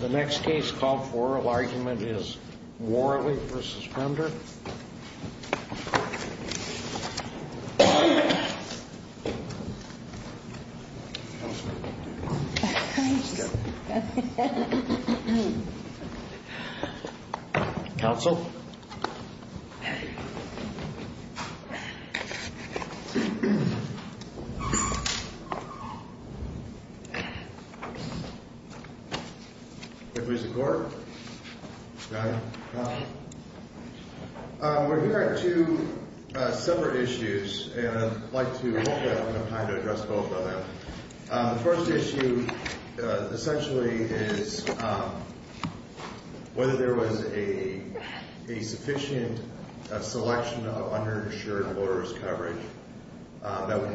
The next case called for oral argument is Worley v. Fender Counsel We're here on two separate issues and I'd like to address both of them. The first issue essentially is whether there was a sufficient selection of underinsured lawyers' coverage that would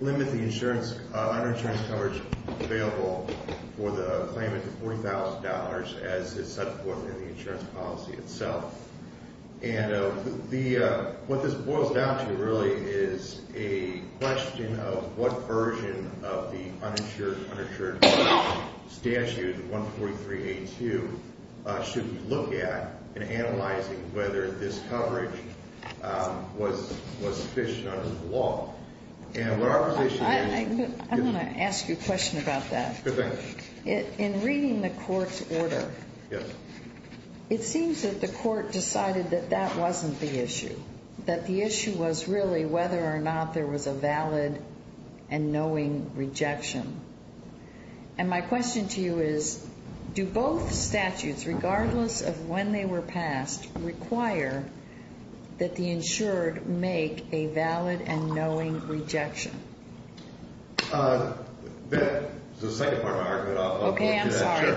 limit the underinsured coverage available for the claimant to $40,000 as is set forth in the insurance policy itself. And what this boils down to really is a question of what version of the uninsured, uninsured statute, 14382, should we look at in analyzing whether this coverage was sufficient under the law. I'm going to ask you a question about that. In reading the court's order, it seems that the court decided that that wasn't the issue. That the issue was really whether or not there was a valid and knowing rejection. And my question to you is, do both statutes, regardless of when they were passed, require that the insured make a valid and knowing rejection? That was the second part of my argument. Okay, I'm sorry.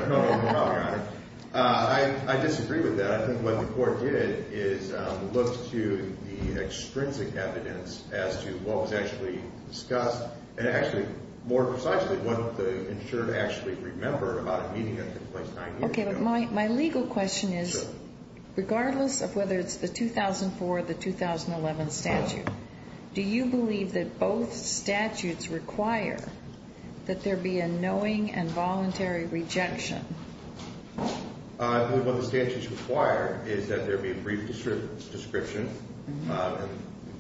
I disagree with that. I think what the court did is look to the extrinsic evidence as to what was actually discussed and actually, more precisely, what the insured actually remember about a meeting that took place nine years ago. Okay, but my legal question is, regardless of whether it's the 2004 or the 2011 statute, do you believe that both statutes require that there be a knowing and voluntary rejection? I believe what the statutes require is that there be a brief description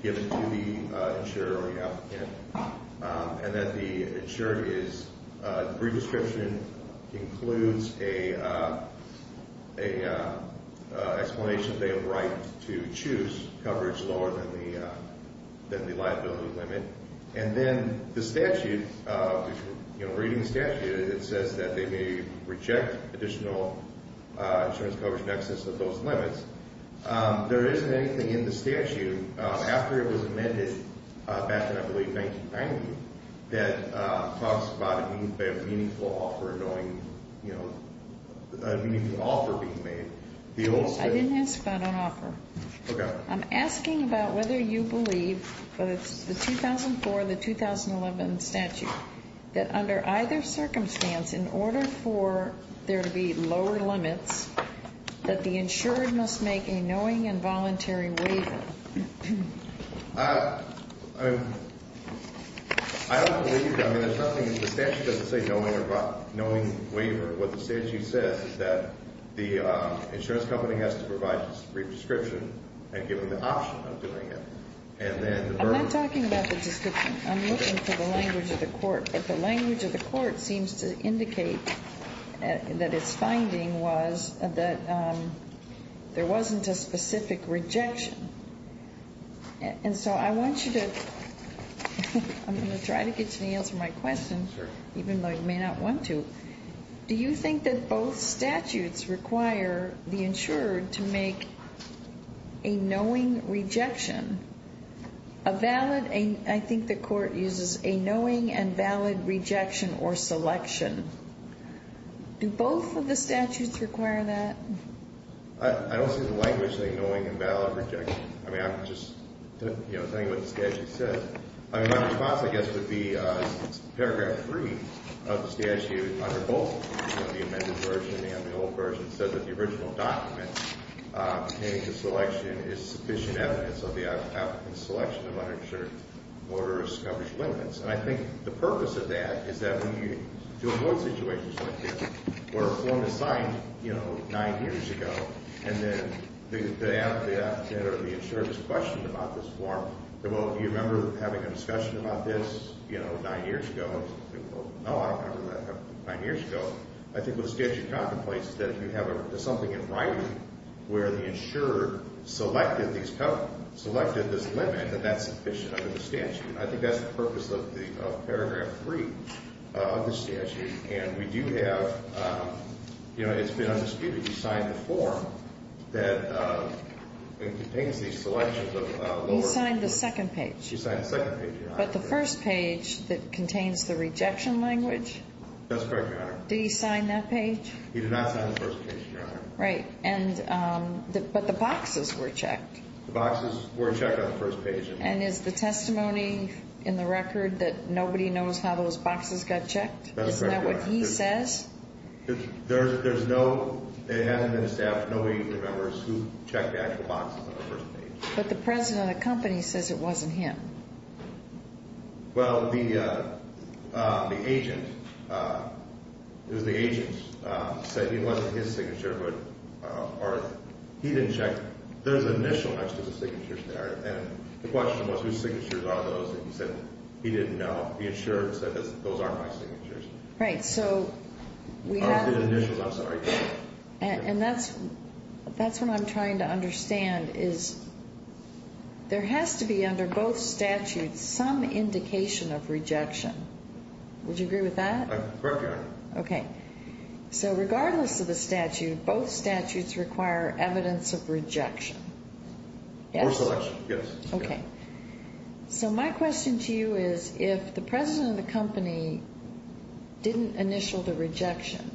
given to the insurer or the applicant. And that the insurer's brief description includes an explanation that they have a right to choose coverage lower than the liability limit. And then the statute, reading the statute, it says that they may reject additional insurance coverage in excess of those limits. There isn't anything in the statute, after it was amended back in, I believe, 1990, that talks about a meaningful offer being made. I didn't ask about an offer. Okay. I'm asking about whether you believe, whether it's the 2004 or the 2011 statute, that under either circumstance, in order for there to be lower limits, that the insured must make a knowing and voluntary waiver. I don't believe, I mean, the statute doesn't say knowing waiver. What the statute says is that the insurance company has to provide a brief description and give them the option of doing it. I'm not talking about the description. I'm looking for the language of the court. But the language of the court seems to indicate that its finding was that there wasn't a specific rejection. And so I want you to, I'm going to try to get you to answer my question, even though you may not want to. Do you think that both statutes require the insured to make a knowing rejection? A valid, I think the court uses a knowing and valid rejection or selection. Do both of the statutes require that? I don't see the language of a knowing and valid rejection. I mean, I'm just saying what the statute says. My response, I guess, would be paragraph three of the statute, under both the amended version and the old version, said that the original document pertaining to selection is sufficient evidence of the applicant's selection of uninsured motorist coverage limits. And I think the purpose of that is that when you do a court situation like this where a form is signed, you know, nine years ago, and then the insured is questioned about this form. Well, do you remember having a discussion about this, you know, nine years ago? No, I don't remember that happening nine years ago. I think what the statute contemplates is that you have something in writing where the insured selected this limit, and that's sufficient under the statute. And I think that's the purpose of paragraph three of the statute. And we do have, you know, it's been undisputed, you signed the form that contains these selections of lower. He signed the second page. He signed the second page, Your Honor. But the first page that contains the rejection language. That's correct, Your Honor. Did he sign that page? He did not sign the first page, Your Honor. Right. But the boxes were checked. The boxes were checked on the first page. And is the testimony in the record that nobody knows how those boxes got checked? That's correct, Your Honor. Isn't that what he says? There's no, it hasn't been established. Nobody remembers who checked the actual boxes on the first page. But the president of the company says it wasn't him. Well, the agent, it was the agent, said it wasn't his signature, but he didn't check. There's an initial mention of the signatures there. And the question was whose signatures are those. And he said he didn't know. He assured us that those aren't my signatures. Right. So we have. Those are the initials, I'm sorry. And that's what I'm trying to understand is there has to be under both statutes some indication of rejection. Would you agree with that? Correct, Your Honor. Okay. So regardless of the statute, both statutes require evidence of rejection. Yes? Or selection, yes. Okay. So my question to you is if the president of the company didn't initial the rejection,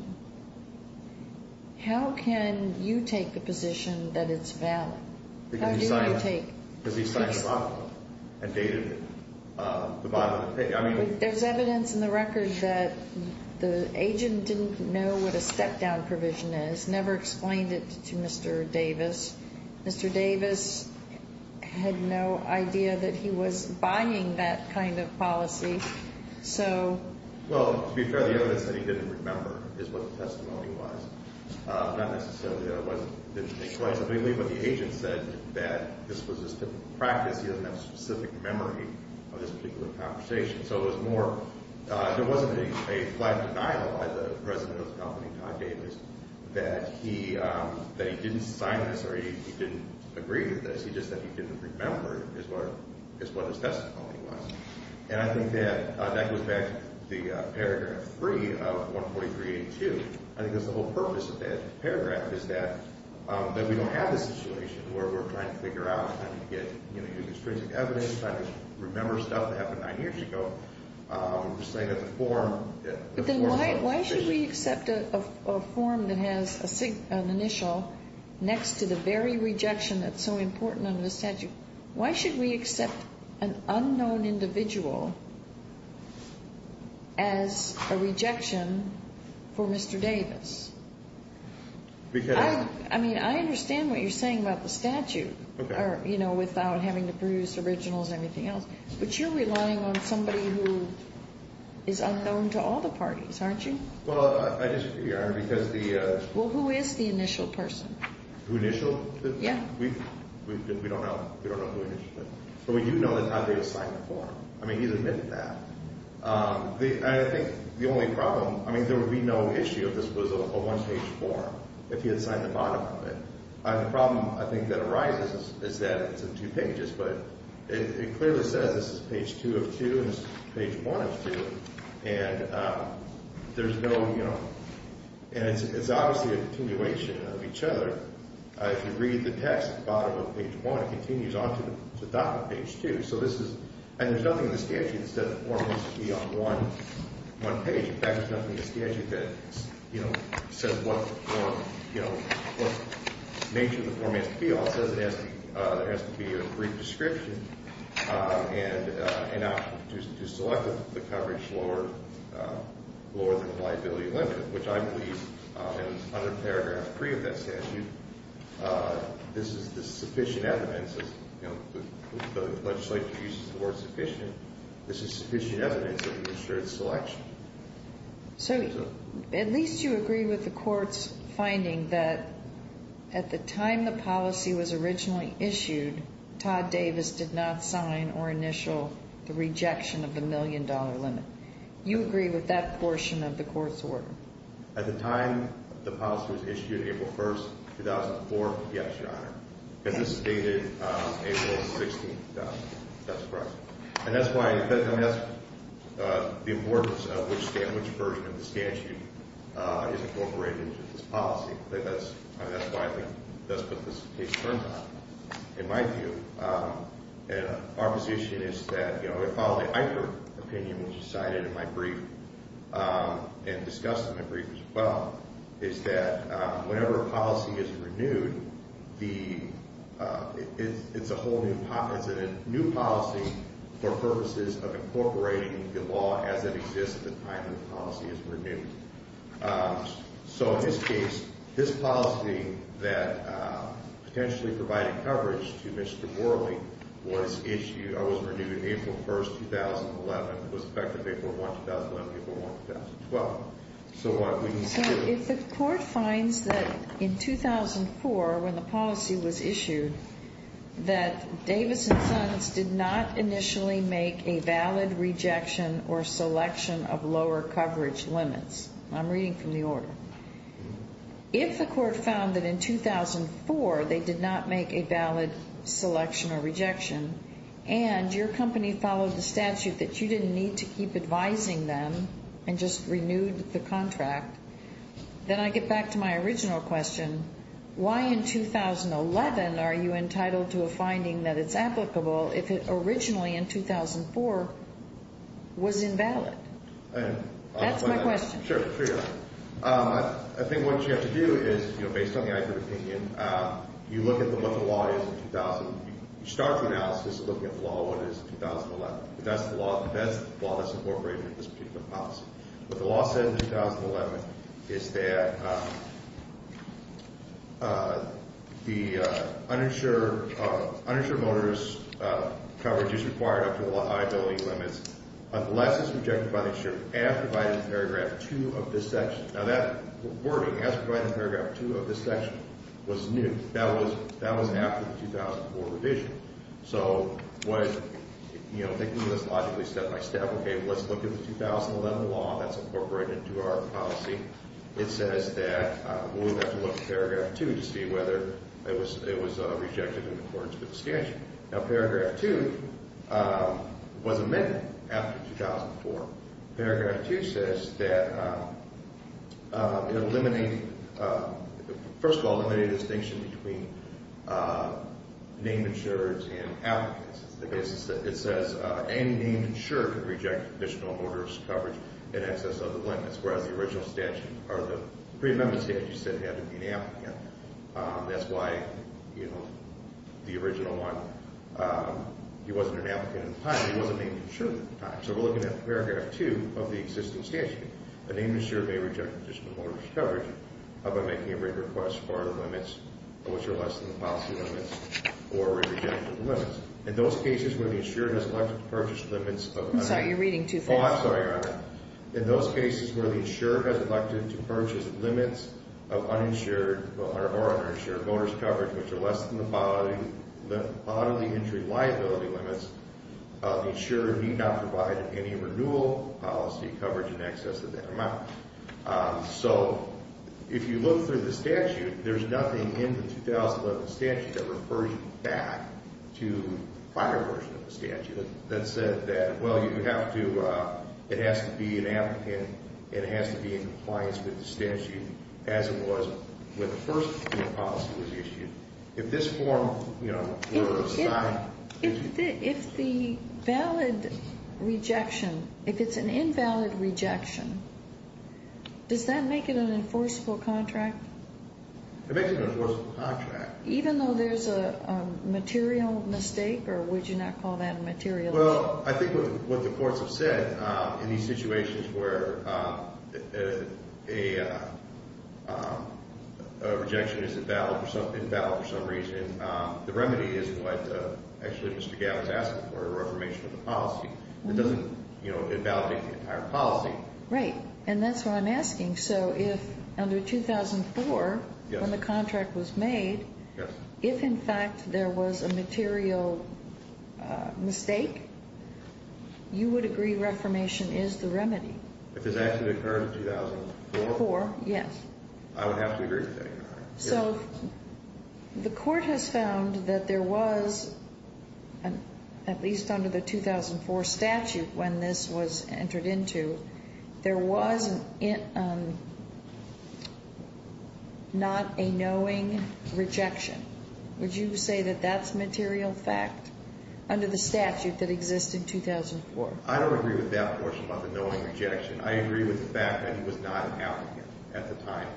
how can you take the position that it's valid? How do you want to take? Because he signed the bottom and dated the bottom. There's evidence in the record that the agent didn't know what a step-down provision is, never explained it to Mr. Davis. Mr. Davis had no idea that he was buying that kind of policy. So. Well, to be fair, the evidence that he didn't remember is what the testimony was. Not necessarily that it didn't take place. But I believe what the agent said that this was his typical practice. He doesn't have a specific memory of this particular conversation. There wasn't a flat denial by the president of the company, Todd Davis, that he didn't sign this or he didn't agree to this. He just said he didn't remember is what his testimony was. And I think that goes back to the paragraph 3 of 14382. I think that's the whole purpose of that paragraph is that we don't have this situation where we're trying to figure out. I remember stuff that happened nine years ago. Why should we accept a form that has an initial next to the very rejection that's so important under the statute? Why should we accept an unknown individual as a rejection for Mr. Davis? Because. I mean, I understand what you're saying about the statute or, you know, without having to produce originals or anything else. But you're relying on somebody who is unknown to all the parties, aren't you? Well, I disagree. Because the. Well, who is the initial person? Initial? Yeah. We don't know. We don't know who it is. But we do know that Todd Davis signed the form. I mean, he's admitted that. I think the only problem. I mean, there would be no issue if this was a one-page form, if he had signed the bottom of it. The problem, I think, that arises is that it's in two pages. But it clearly says this is page 2 of 2 and this is page 1 of 2. And there's no, you know. And it's obviously a continuation of each other. If you read the text at the bottom of page 1, it continues on to the top of page 2. So this is. And there's nothing in the statute that says the form needs to be on one page. In fact, there's nothing in the statute that says what nature the form has to be. All it says is there has to be a brief description. And to select the coverage lower than the liability limit, which I believe is under paragraph 3 of that statute. This is the sufficient evidence. The legislature uses the word sufficient. This is sufficient evidence of administrative selection. So at least you agree with the court's finding that at the time the policy was originally issued, Todd Davis did not sign or initial the rejection of the million-dollar limit. You agree with that portion of the court's order? At the time the policy was issued, April 1, 2004, yes, Your Honor. And this is dated April 16, 2000. That's correct. And that's why. I mean, that's the importance of which version of the statute is incorporated into this policy. That's why I think that's what this case turns on. In my view, our position is that, you know, and discussed in the brief as well, is that whenever a policy is renewed, it's a whole new policy for purposes of incorporating the law as it exists at the time the policy is renewed. So in this case, this policy that potentially provided coverage to Mr. Worley was issued, I wasn't renewing it April 1, 2011. It was effective April 1, 2011, April 1, 2012. So what we can see is. So if the court finds that in 2004, when the policy was issued, that Davis and Sons did not initially make a valid rejection or selection of lower coverage limits, I'm reading from the order. If the court found that in 2004 they did not make a valid selection or rejection and your company followed the statute that you didn't need to keep advising them and just renewed the contract, then I get back to my original question. Why in 2011 are you entitled to a finding that it's applicable if it originally in 2004 was invalid? That's my question. Sure. I think what you have to do is, you know, based on the IPR opinion, you look at what the law is in 2000. You start the analysis looking at what the law is in 2011. That's the law that's incorporated in this particular policy. What the law said in 2011 is that the uninsured motorist coverage is required up to the liability limits unless it's rejected by the insurer as provided in paragraph 2 of this section. Now that wording, as provided in paragraph 2 of this section, was new. That was after the 2004 revision. So what, you know, taking this logically step-by-step, okay, let's look at the 2011 law. That's incorporated into our policy. It says that we would have to look at paragraph 2 to see whether it was rejected in accordance with the statute. Now paragraph 2 was amended after 2004. Paragraph 2 says that it eliminated, first of all, eliminated a distinction between named insurers and applicants. It says any named insurer could reject additional motorist coverage in excess of the limits, whereas the original statute or the pre-amendment statute said it had to be an applicant. That's why, you know, the original one, he wasn't an applicant at the time. He wasn't named insurer at the time. So we're looking at paragraph 2 of the existing statute. A named insurer may reject additional motorist coverage by making a written request for the limits, which are less than the policy limits, or reject the limits. In those cases where the insurer has elected to purchase limits of uninsured motorist coverage, which are less than the bodily injury liability limits, the insurer need not provide any renewal policy coverage in excess of that amount. So if you look through the statute, there's nothing in the 2011 statute that refers back to the prior version of the statute that said that, well, you have to, it has to be an applicant. It has to be in compliance with the statute as it was when the first policy was issued. If this form were signed. If the valid rejection, if it's an invalid rejection, does that make it an enforceable contract? It makes it an enforceable contract. Even though there's a material mistake, or would you not call that material? Well, I think what the courts have said, in these situations where a rejection is invalid for some reason, the remedy is what actually Mr. Gabb is asking for, a reformation of the policy. It doesn't, you know, invalidate the entire policy. Right, and that's what I'm asking. So if under 2004, when the contract was made, if in fact there was a material mistake, you would agree reformation is the remedy? If it actually occurred in 2004? Yes. I would have to agree with that. So the court has found that there was, at least under the 2004 statute when this was entered into, there was not a knowing rejection. Would you say that that's material fact under the statute that existed in 2004? I don't agree with that portion about the knowing rejection. I agree with the fact that it was not an outing at the time.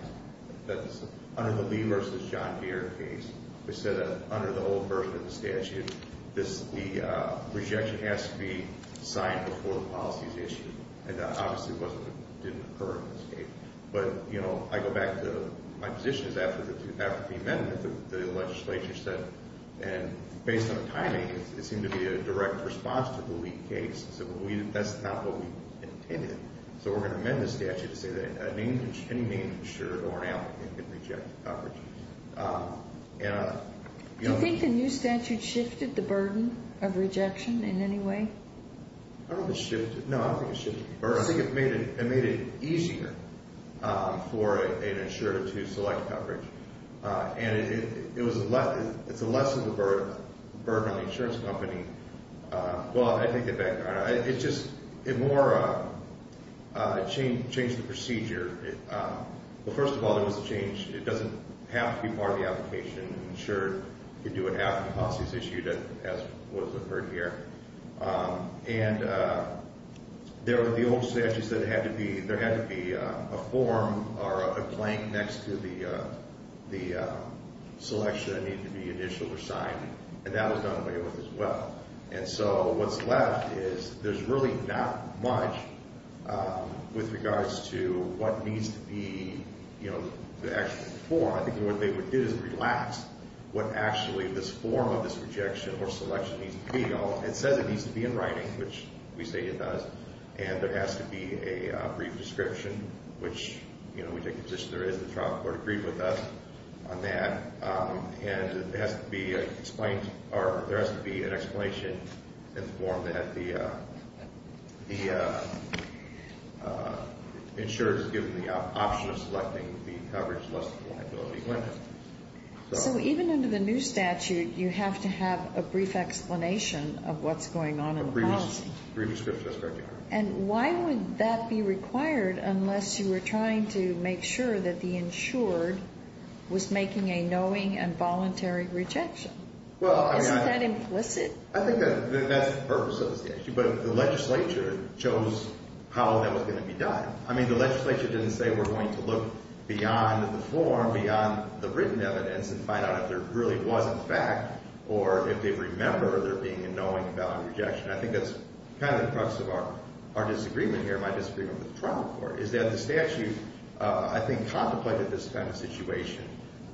Under the Lee v. John Deere case, they said that under the old version of the statute, the rejection has to be signed before the policy is issued. And that obviously didn't occur in this case. But, you know, I go back to my position is after the amendment, the legislature said, and based on the timing, it seemed to be a direct response to the Lee case. So that's not what we intended. So we're going to amend the statute to say that any named insured or an applicant can reject coverage. Do you think the new statute shifted the burden of rejection in any way? I don't think it shifted. No, I don't think it shifted the burden. I think it made it easier for an insurer to select coverage. And it's a less of a burden on the insurance company. Well, I think it more changed the procedure. Well, first of all, there was a change. It doesn't have to be part of the application. An insured can do it after the policy is issued, as was referred here. And there were the old statutes that had to be, there had to be a form or a blank next to the selection that needed to be initialed or signed. And that was done away with as well. And so what's left is there's really not much with regards to what needs to be, you know, the actual form. I think what they would do is relax what actually this form of this rejection or selection needs to be. It says it needs to be in writing, which we say it does. And there has to be a brief description, which, you know, we take the position there is. The trial court agreed with us on that. And it has to be explained, or there has to be an explanation in the form that the insured is given the option of selecting the coverage less liability limit. So even under the new statute, you have to have a brief explanation of what's going on in the policy. A brief description, that's correct, yeah. And why would that be required unless you were trying to make sure that the insured was making a knowing and voluntary rejection? Well, I mean, I. Isn't that implicit? I think that's the purpose of the statute. But the legislature chose how that was going to be done. I mean, the legislature didn't say we're going to look beyond the form, beyond the written evidence and find out if there really was a fact or if they remember there being a knowing and voluntary rejection. I think that's kind of the crux of our disagreement here, my disagreement with the trial court, is that the statute, I think, contemplated this kind of situation.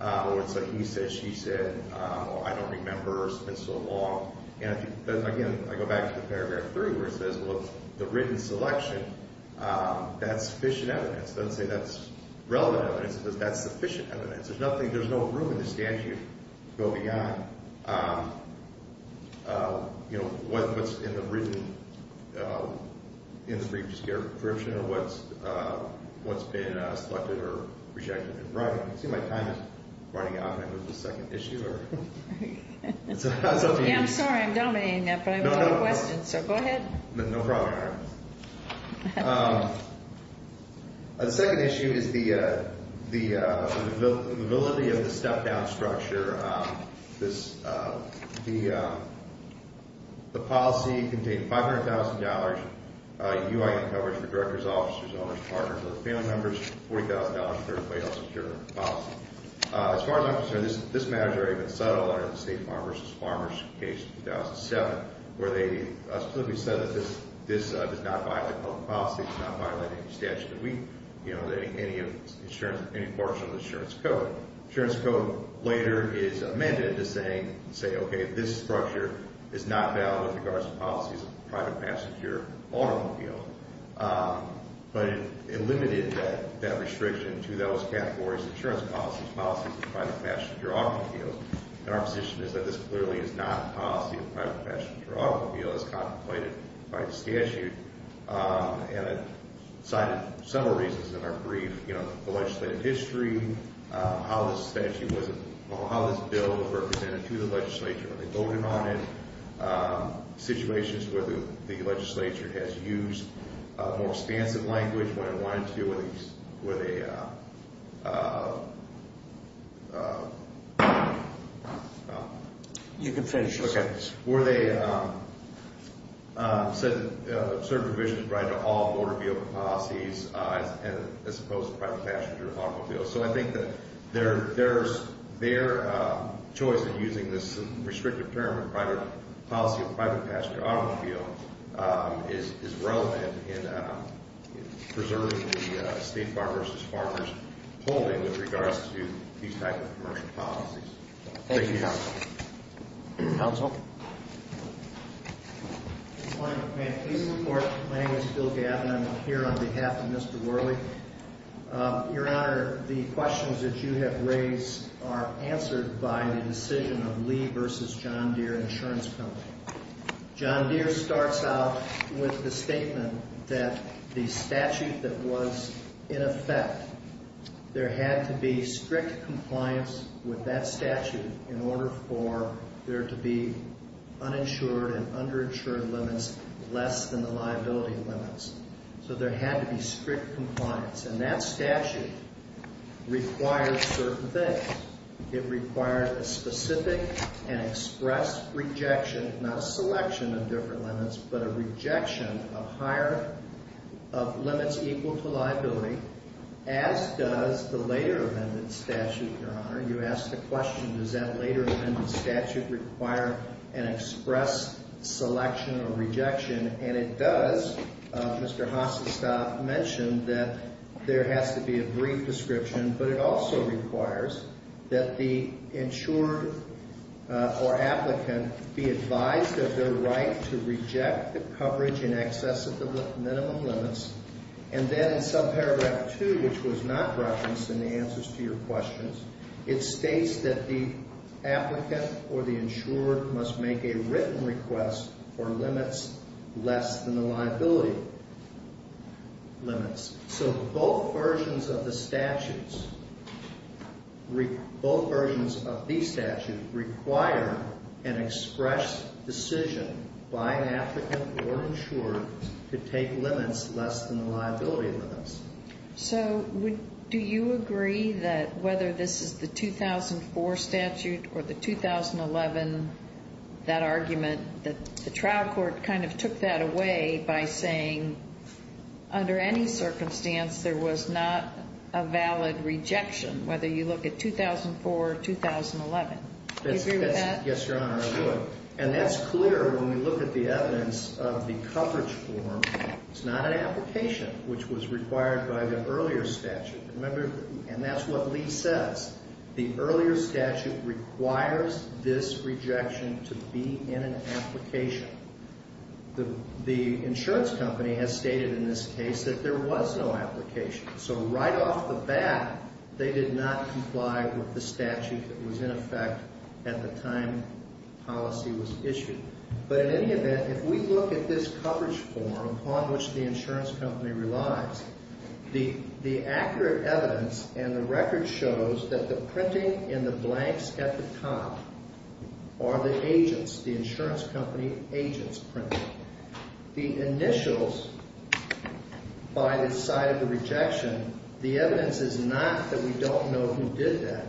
It's like he said, she said, I don't remember, it's been so long. And again, I go back to the paragraph three where it says, look, the written selection, that's sufficient evidence. It doesn't say that's relevant evidence. It says that's sufficient evidence. There's nothing, there's no room in the statute to go beyond, you know, what's in the written, in the brief description or what's been selected or rejected. I can see my time is running out. Can I move to the second issue or? Yeah, I'm sorry. I'm dominating that, but I have a lot of questions. So go ahead. No problem. The second issue is the mobility of the step-down structure. The policy contained $500,000 UIN coverage for directors, officers, owners, partners, or family members, $40,000 for the payout security policy. As far as I'm concerned, this matter has already been settled under the State Farmers v. Farmers case in 2007, where they specifically said that this does not violate public policy, does not violate any statute of the week, you know, any portion of the insurance code. Insurance code later is amended to say, okay, this structure is not valid with regards to policies of private passenger automobile. But it limited that restriction to those categories of insurance policies, policies of private passenger automobile. And our position is that this clearly is not a policy of private passenger automobile as contemplated by the statute. And it cited several reasons in our brief, you know, the legislative history, how this statute wasn't, how this bill was represented to the legislature, when they voted on it, situations where the legislature has used more expansive language when it wanted to, where they... You can finish. Okay. Where they said that certain provisions apply to all motor vehicle policies as opposed to private passenger automobile. So I think that there's their choice in using this restrictive term of private policy of private passenger automobile is relevant in preserving the State Farmers v. Farmers holding with regards to these types of commercial policies. Thank you, counsel. Counsel? Good morning, Mr. Chairman. Please report. My name is Bill Gatton. I'm here on behalf of Mr. Worley. Your Honor, the questions that you have raised are answered by the decision of Lee v. John Deere Insurance Company. John Deere starts out with the statement that the statute that was in effect, there had to be strict compliance with that statute in order for there to be uninsured and underinsured limits less than the liability limits. So there had to be strict compliance. And that statute requires certain things. It requires a specific and express rejection, not a selection of different limits, but a rejection of higher, of limits equal to liability, as does the later amended statute, Your Honor. You asked the question, does that later amended statute require an express selection or rejection? And it does. Mr. Hassestad mentioned that there has to be a brief description. But it also requires that the insured or applicant be advised of their right to reject the coverage in excess of the minimum limits. And then in subparagraph 2, which was not referenced in the answers to your questions, it states that the applicant or the insured must make a written request for limits less than the liability limits. So both versions of the statutes, both versions of these statutes require an express decision by an applicant or insured to take limits less than the liability limits. So do you agree that whether this is the 2004 statute or the 2011, that argument, that the trial court kind of took that away by saying under any circumstance there was not a valid rejection, whether you look at 2004 or 2011? Do you agree with that? Yes, Your Honor, I do. And that's clear when we look at the evidence of the coverage form. It's not an application, which was required by the earlier statute. Remember, and that's what Lee says, the earlier statute requires this rejection to be in an application. The insurance company has stated in this case that there was no application. So right off the bat, they did not comply with the statute that was in effect at the time policy was issued. But in any event, if we look at this coverage form upon which the insurance company relies, the accurate evidence and the record shows that the printing in the blanks at the top are the agents, the insurance company agents printing. The initials by the side of the rejection, the evidence is not that we don't know who did that.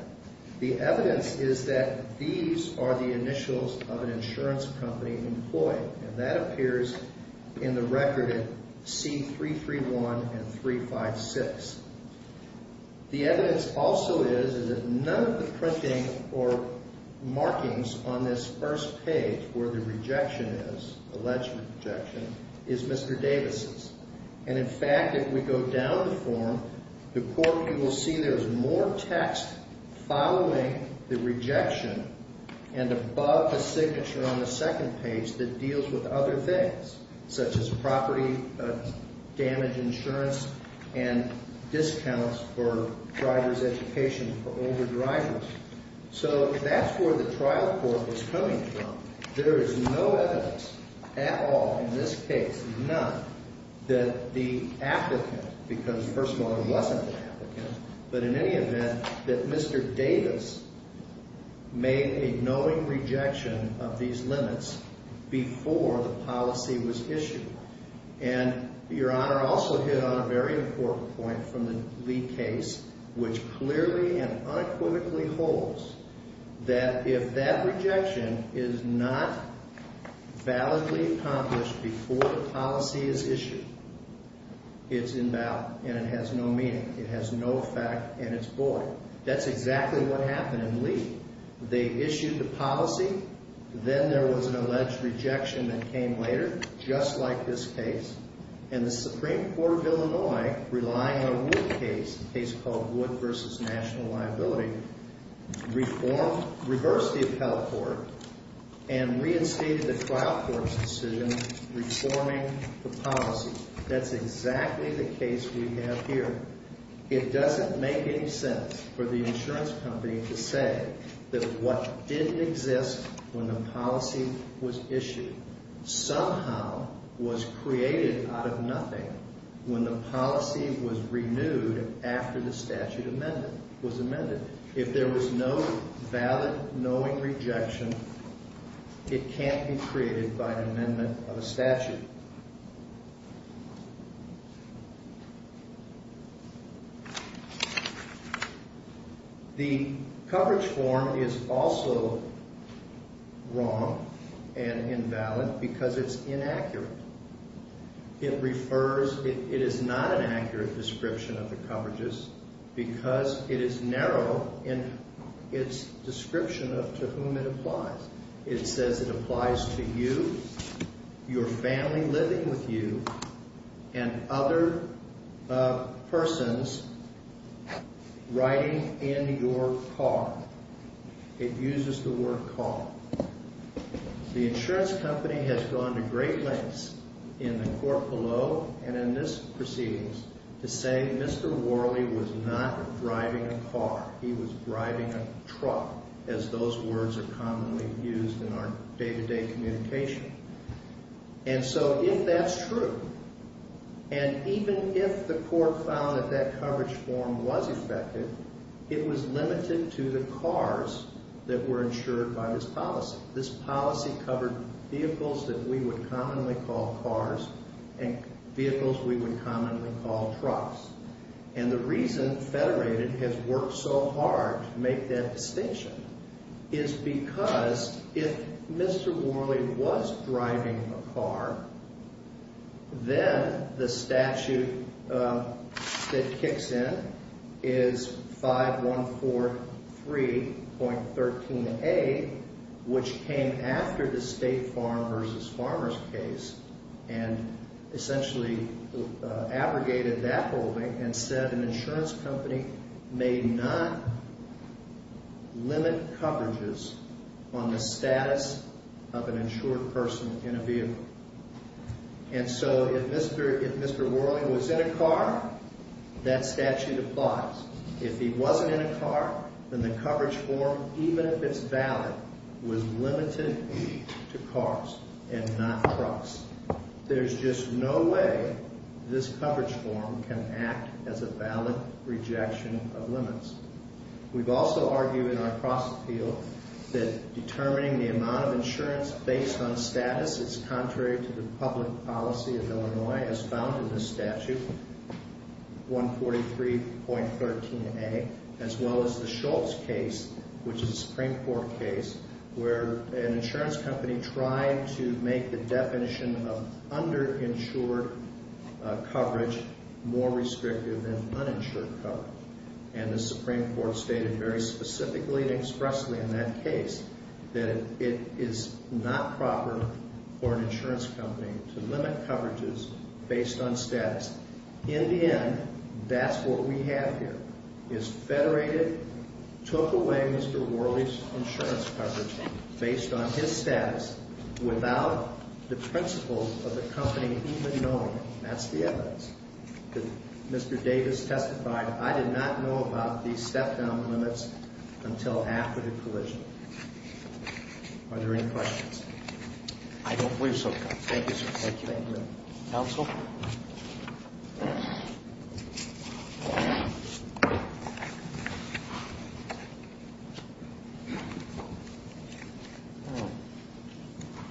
The evidence is that these are the initials of an insurance company employee, and that appears in the record at C331 and 356. The evidence also is that none of the printing or markings on this first page where the rejection is, alleged rejection, is Mr. Davis's. And in fact, if we go down the form, the court will see there's more text following the rejection and above the signature on the second page that deals with other things, such as property damage insurance and discounts for driver's education for older drivers. So that's where the trial court was coming from. There is no evidence at all in this case, none, that the applicant, because first of all, it wasn't the applicant, but in any event, that Mr. Davis made a knowing rejection of these limits before the policy was issued. And Your Honor also hit on a very important point from the Lee case, which clearly and unequivocally holds that if that rejection is not validly accomplished before the policy is issued, it's invalid and it has no meaning. It has no effect and it's void. That's exactly what happened in Lee. They issued the policy. Then there was an alleged rejection that came later, just like this case. And the Supreme Court of Illinois, relying on Wood case, a case called Wood v. National Liability, reformed, reversed the appellate court and reinstated the trial court's decision, reforming the policy. That's exactly the case we have here. It doesn't make any sense for the insurance company to say that what didn't exist when the policy was issued somehow was created out of nothing when the policy was renewed after the statute was amended. If there was no valid knowing rejection, it can't be created by an amendment of a statute. The coverage form is also wrong and invalid because it's inaccurate. It refers—it is not an accurate description of the coverages because it is narrow in its description of to whom it applies. It says it applies to you, your family living with you, and other persons riding in your car. It uses the word car. The insurance company has gone to great lengths in the court below and in this proceedings to say Mr. Worley was not driving a car. He was driving a truck, as those words are commonly used in our day-to-day communication. And so if that's true, and even if the court found that that coverage form was effective, it was limited to the cars that were insured by this policy. This policy covered vehicles that we would commonly call cars and vehicles we would commonly call trucks. And the reason Federated has worked so hard to make that distinction is because if Mr. Worley was driving a car, then the statute that kicks in is 5143.13a, which came after the State Farm v. Farmers case and essentially abrogated that holding and said an insurance company may not limit coverages on the status of an insured person in a vehicle. And so if Mr. Worley was in a car, that statute applies. If he wasn't in a car, then the coverage form, even if it's valid, was limited to cars and not trucks. There's just no way this coverage form can act as a valid rejection of limits. We've also argued in our cross-appeal that determining the amount of insurance based on status is contrary to the public policy of Illinois, as found in this statute, 143.13a, as well as the Schultz case, which is a Supreme Court case, where an insurance company tried to make the definition of underinsured coverage more restrictive than uninsured coverage. And the Supreme Court stated very specifically and expressly in that case that it is not proper for an insurance company to limit coverages based on status. In the end, that's what we have here, is federated, took away Mr. Worley's insurance coverage based on his status without the principles of the company even knowing it. That's the evidence. Mr. Davis testified, I did not know about these step-down limits until after the collision. Are there any questions? I don't believe so, Judge. Thank you, sir. Thank you. Counsel? I'd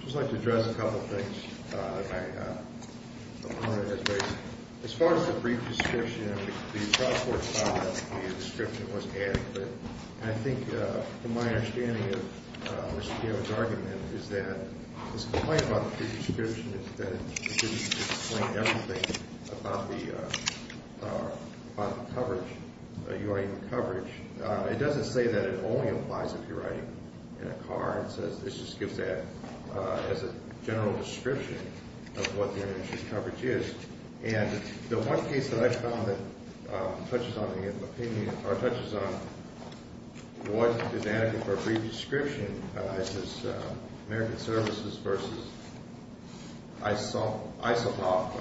just like to address a couple of things. As far as the brief description, the cross-court found that the description was adequate. I think from my understanding of Mr. Davis' argument is that his complaint about the brief description is that it didn't explain everything about the coverage, the UIA coverage. It doesn't say that it only applies if you're riding in a car. It just gives that as a general description of what the underinsured coverage is. And the one case that I found that touches on the opinion or touches on what is adequate for a brief description is American Services versus ISOPOP.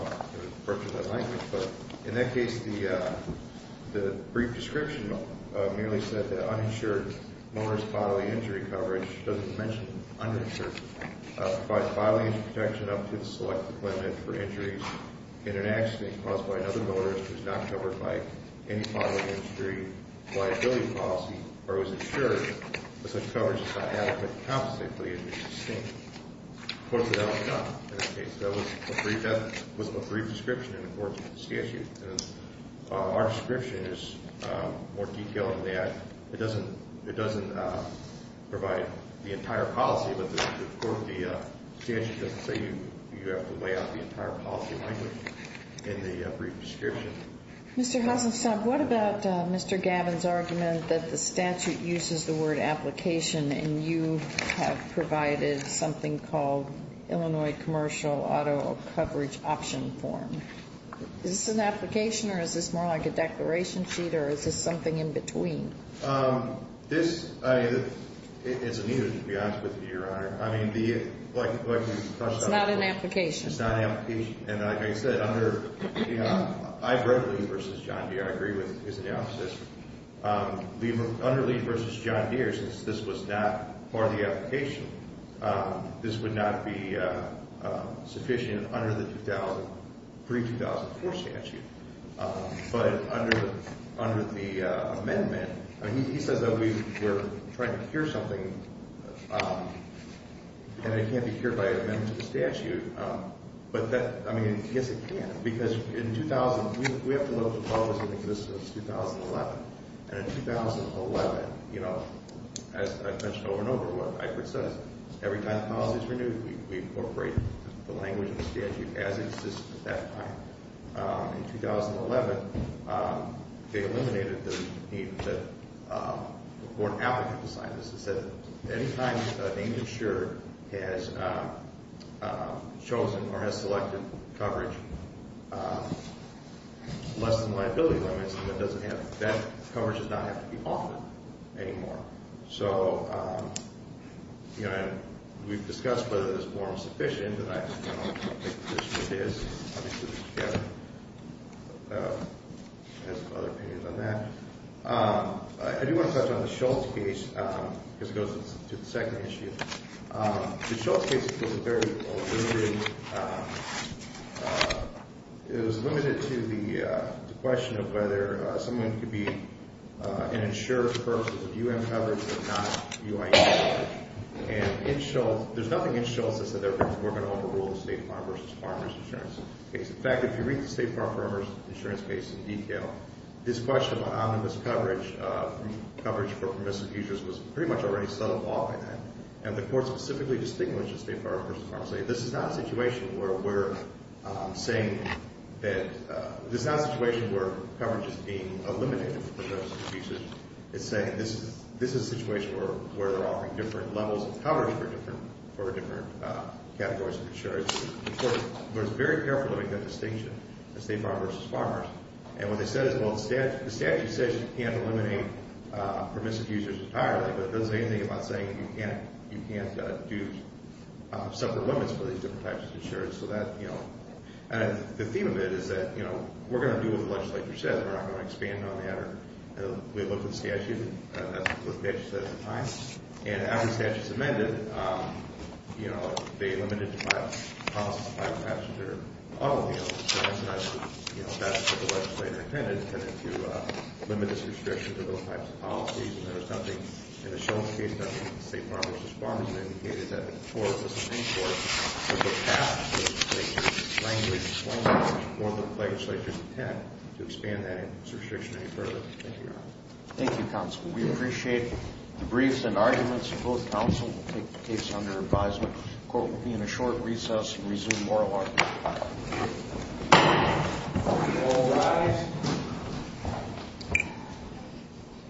In that case, the brief description merely said that uninsured motorist bodily injury coverage, which doesn't mention underinsured, provides bodily injury protection up to the selected limit for injuries in an accident caused by another motorist who is not covered by any bodily injury liability policy or who is insured with such coverage as I have, but compensated for the injury sustained. Of course, that was not the case. That was a brief description in the court's statute. Our description is more detailed than that. It doesn't provide the entire policy, but the statute doesn't say you have to lay out the entire policy language in the brief description. Mr. Hasenstab, what about Mr. Gavin's argument that the statute uses the word application and you have provided something called Illinois commercial auto coverage option form? Is this an application or is this more like a declaration sheet or is this something in between? It's an issue, to be honest with you, Your Honor. It's not an application. It's not an application. And like I said, I read Lee v. John Deere. I agree with his analysis. Under Lee v. John Deere, since this was not part of the application, this would not be sufficient under the pre-2004 statute. But under the amendment, he says that we're trying to cure something, and it can't be cured by an amendment to the statute. But that, I mean, yes, it can. Because in 2000, we have to look at policy that exists since 2011. And in 2011, you know, as I've mentioned over and over what Eichert says, every time the policy is renewed, we incorporate the language of the statute as it exists at that time. In 2011, they eliminated the need for an applicant to sign this. It said that any time a named insurer has chosen or has selected coverage less than liability limits, that coverage does not have to be offered anymore. So, you know, and we've discussed whether this form is sufficient, and I don't know what the position is. Obviously, we can get some other opinions on that. I do want to touch on the Shultz case, because it goes to the second issue. The Shultz case is a very old injury. It was limited to the question of whether someone could be an insurer for purposes of UM coverage, but not UI coverage. And in Shultz, there's nothing in Shultz that says that we're going to overrule the State Farm versus Farmers Insurance case. In fact, if you read the State Farm versus Farmers Insurance case in detail, this question about omnibus coverage for permissive users was pretty much already settled off in that. And the court specifically distinguished the State Farm versus Farmers. This is not a situation where we're saying that – this is not a situation where coverage is being eliminated for permissive users. It's saying this is a situation where they're offering different levels of coverage for different categories of insurers. The court was very careful to make that distinction, the State Farm versus Farmers. And what they said is, well, the statute says you can't eliminate permissive users entirely, but it doesn't say anything about saying you can't do separate limits for these different types of insurers. And the theme of it is that we're going to do what the legislature says, and we're not going to expand on that. We looked at the statute, and that's what the legislature said at the time. And after the statute was amended, you know, they limited the policy to five passenger automobiles, and that's what the legislature intended, to limit this restriction to those types of policies. And there was nothing in the Shultz case, nothing in the State Farm versus Farmers, that indicated that the court wasn't in court. So the path was to take the language more than the legislature's intent to expand that restriction any further. Thank you, Your Honor. Thank you, Counsel. We appreciate the briefs and arguments of both counsel. We'll take the case under advisement. The court will be in a short recess and resume oral arguments at 5 o'clock. All rise.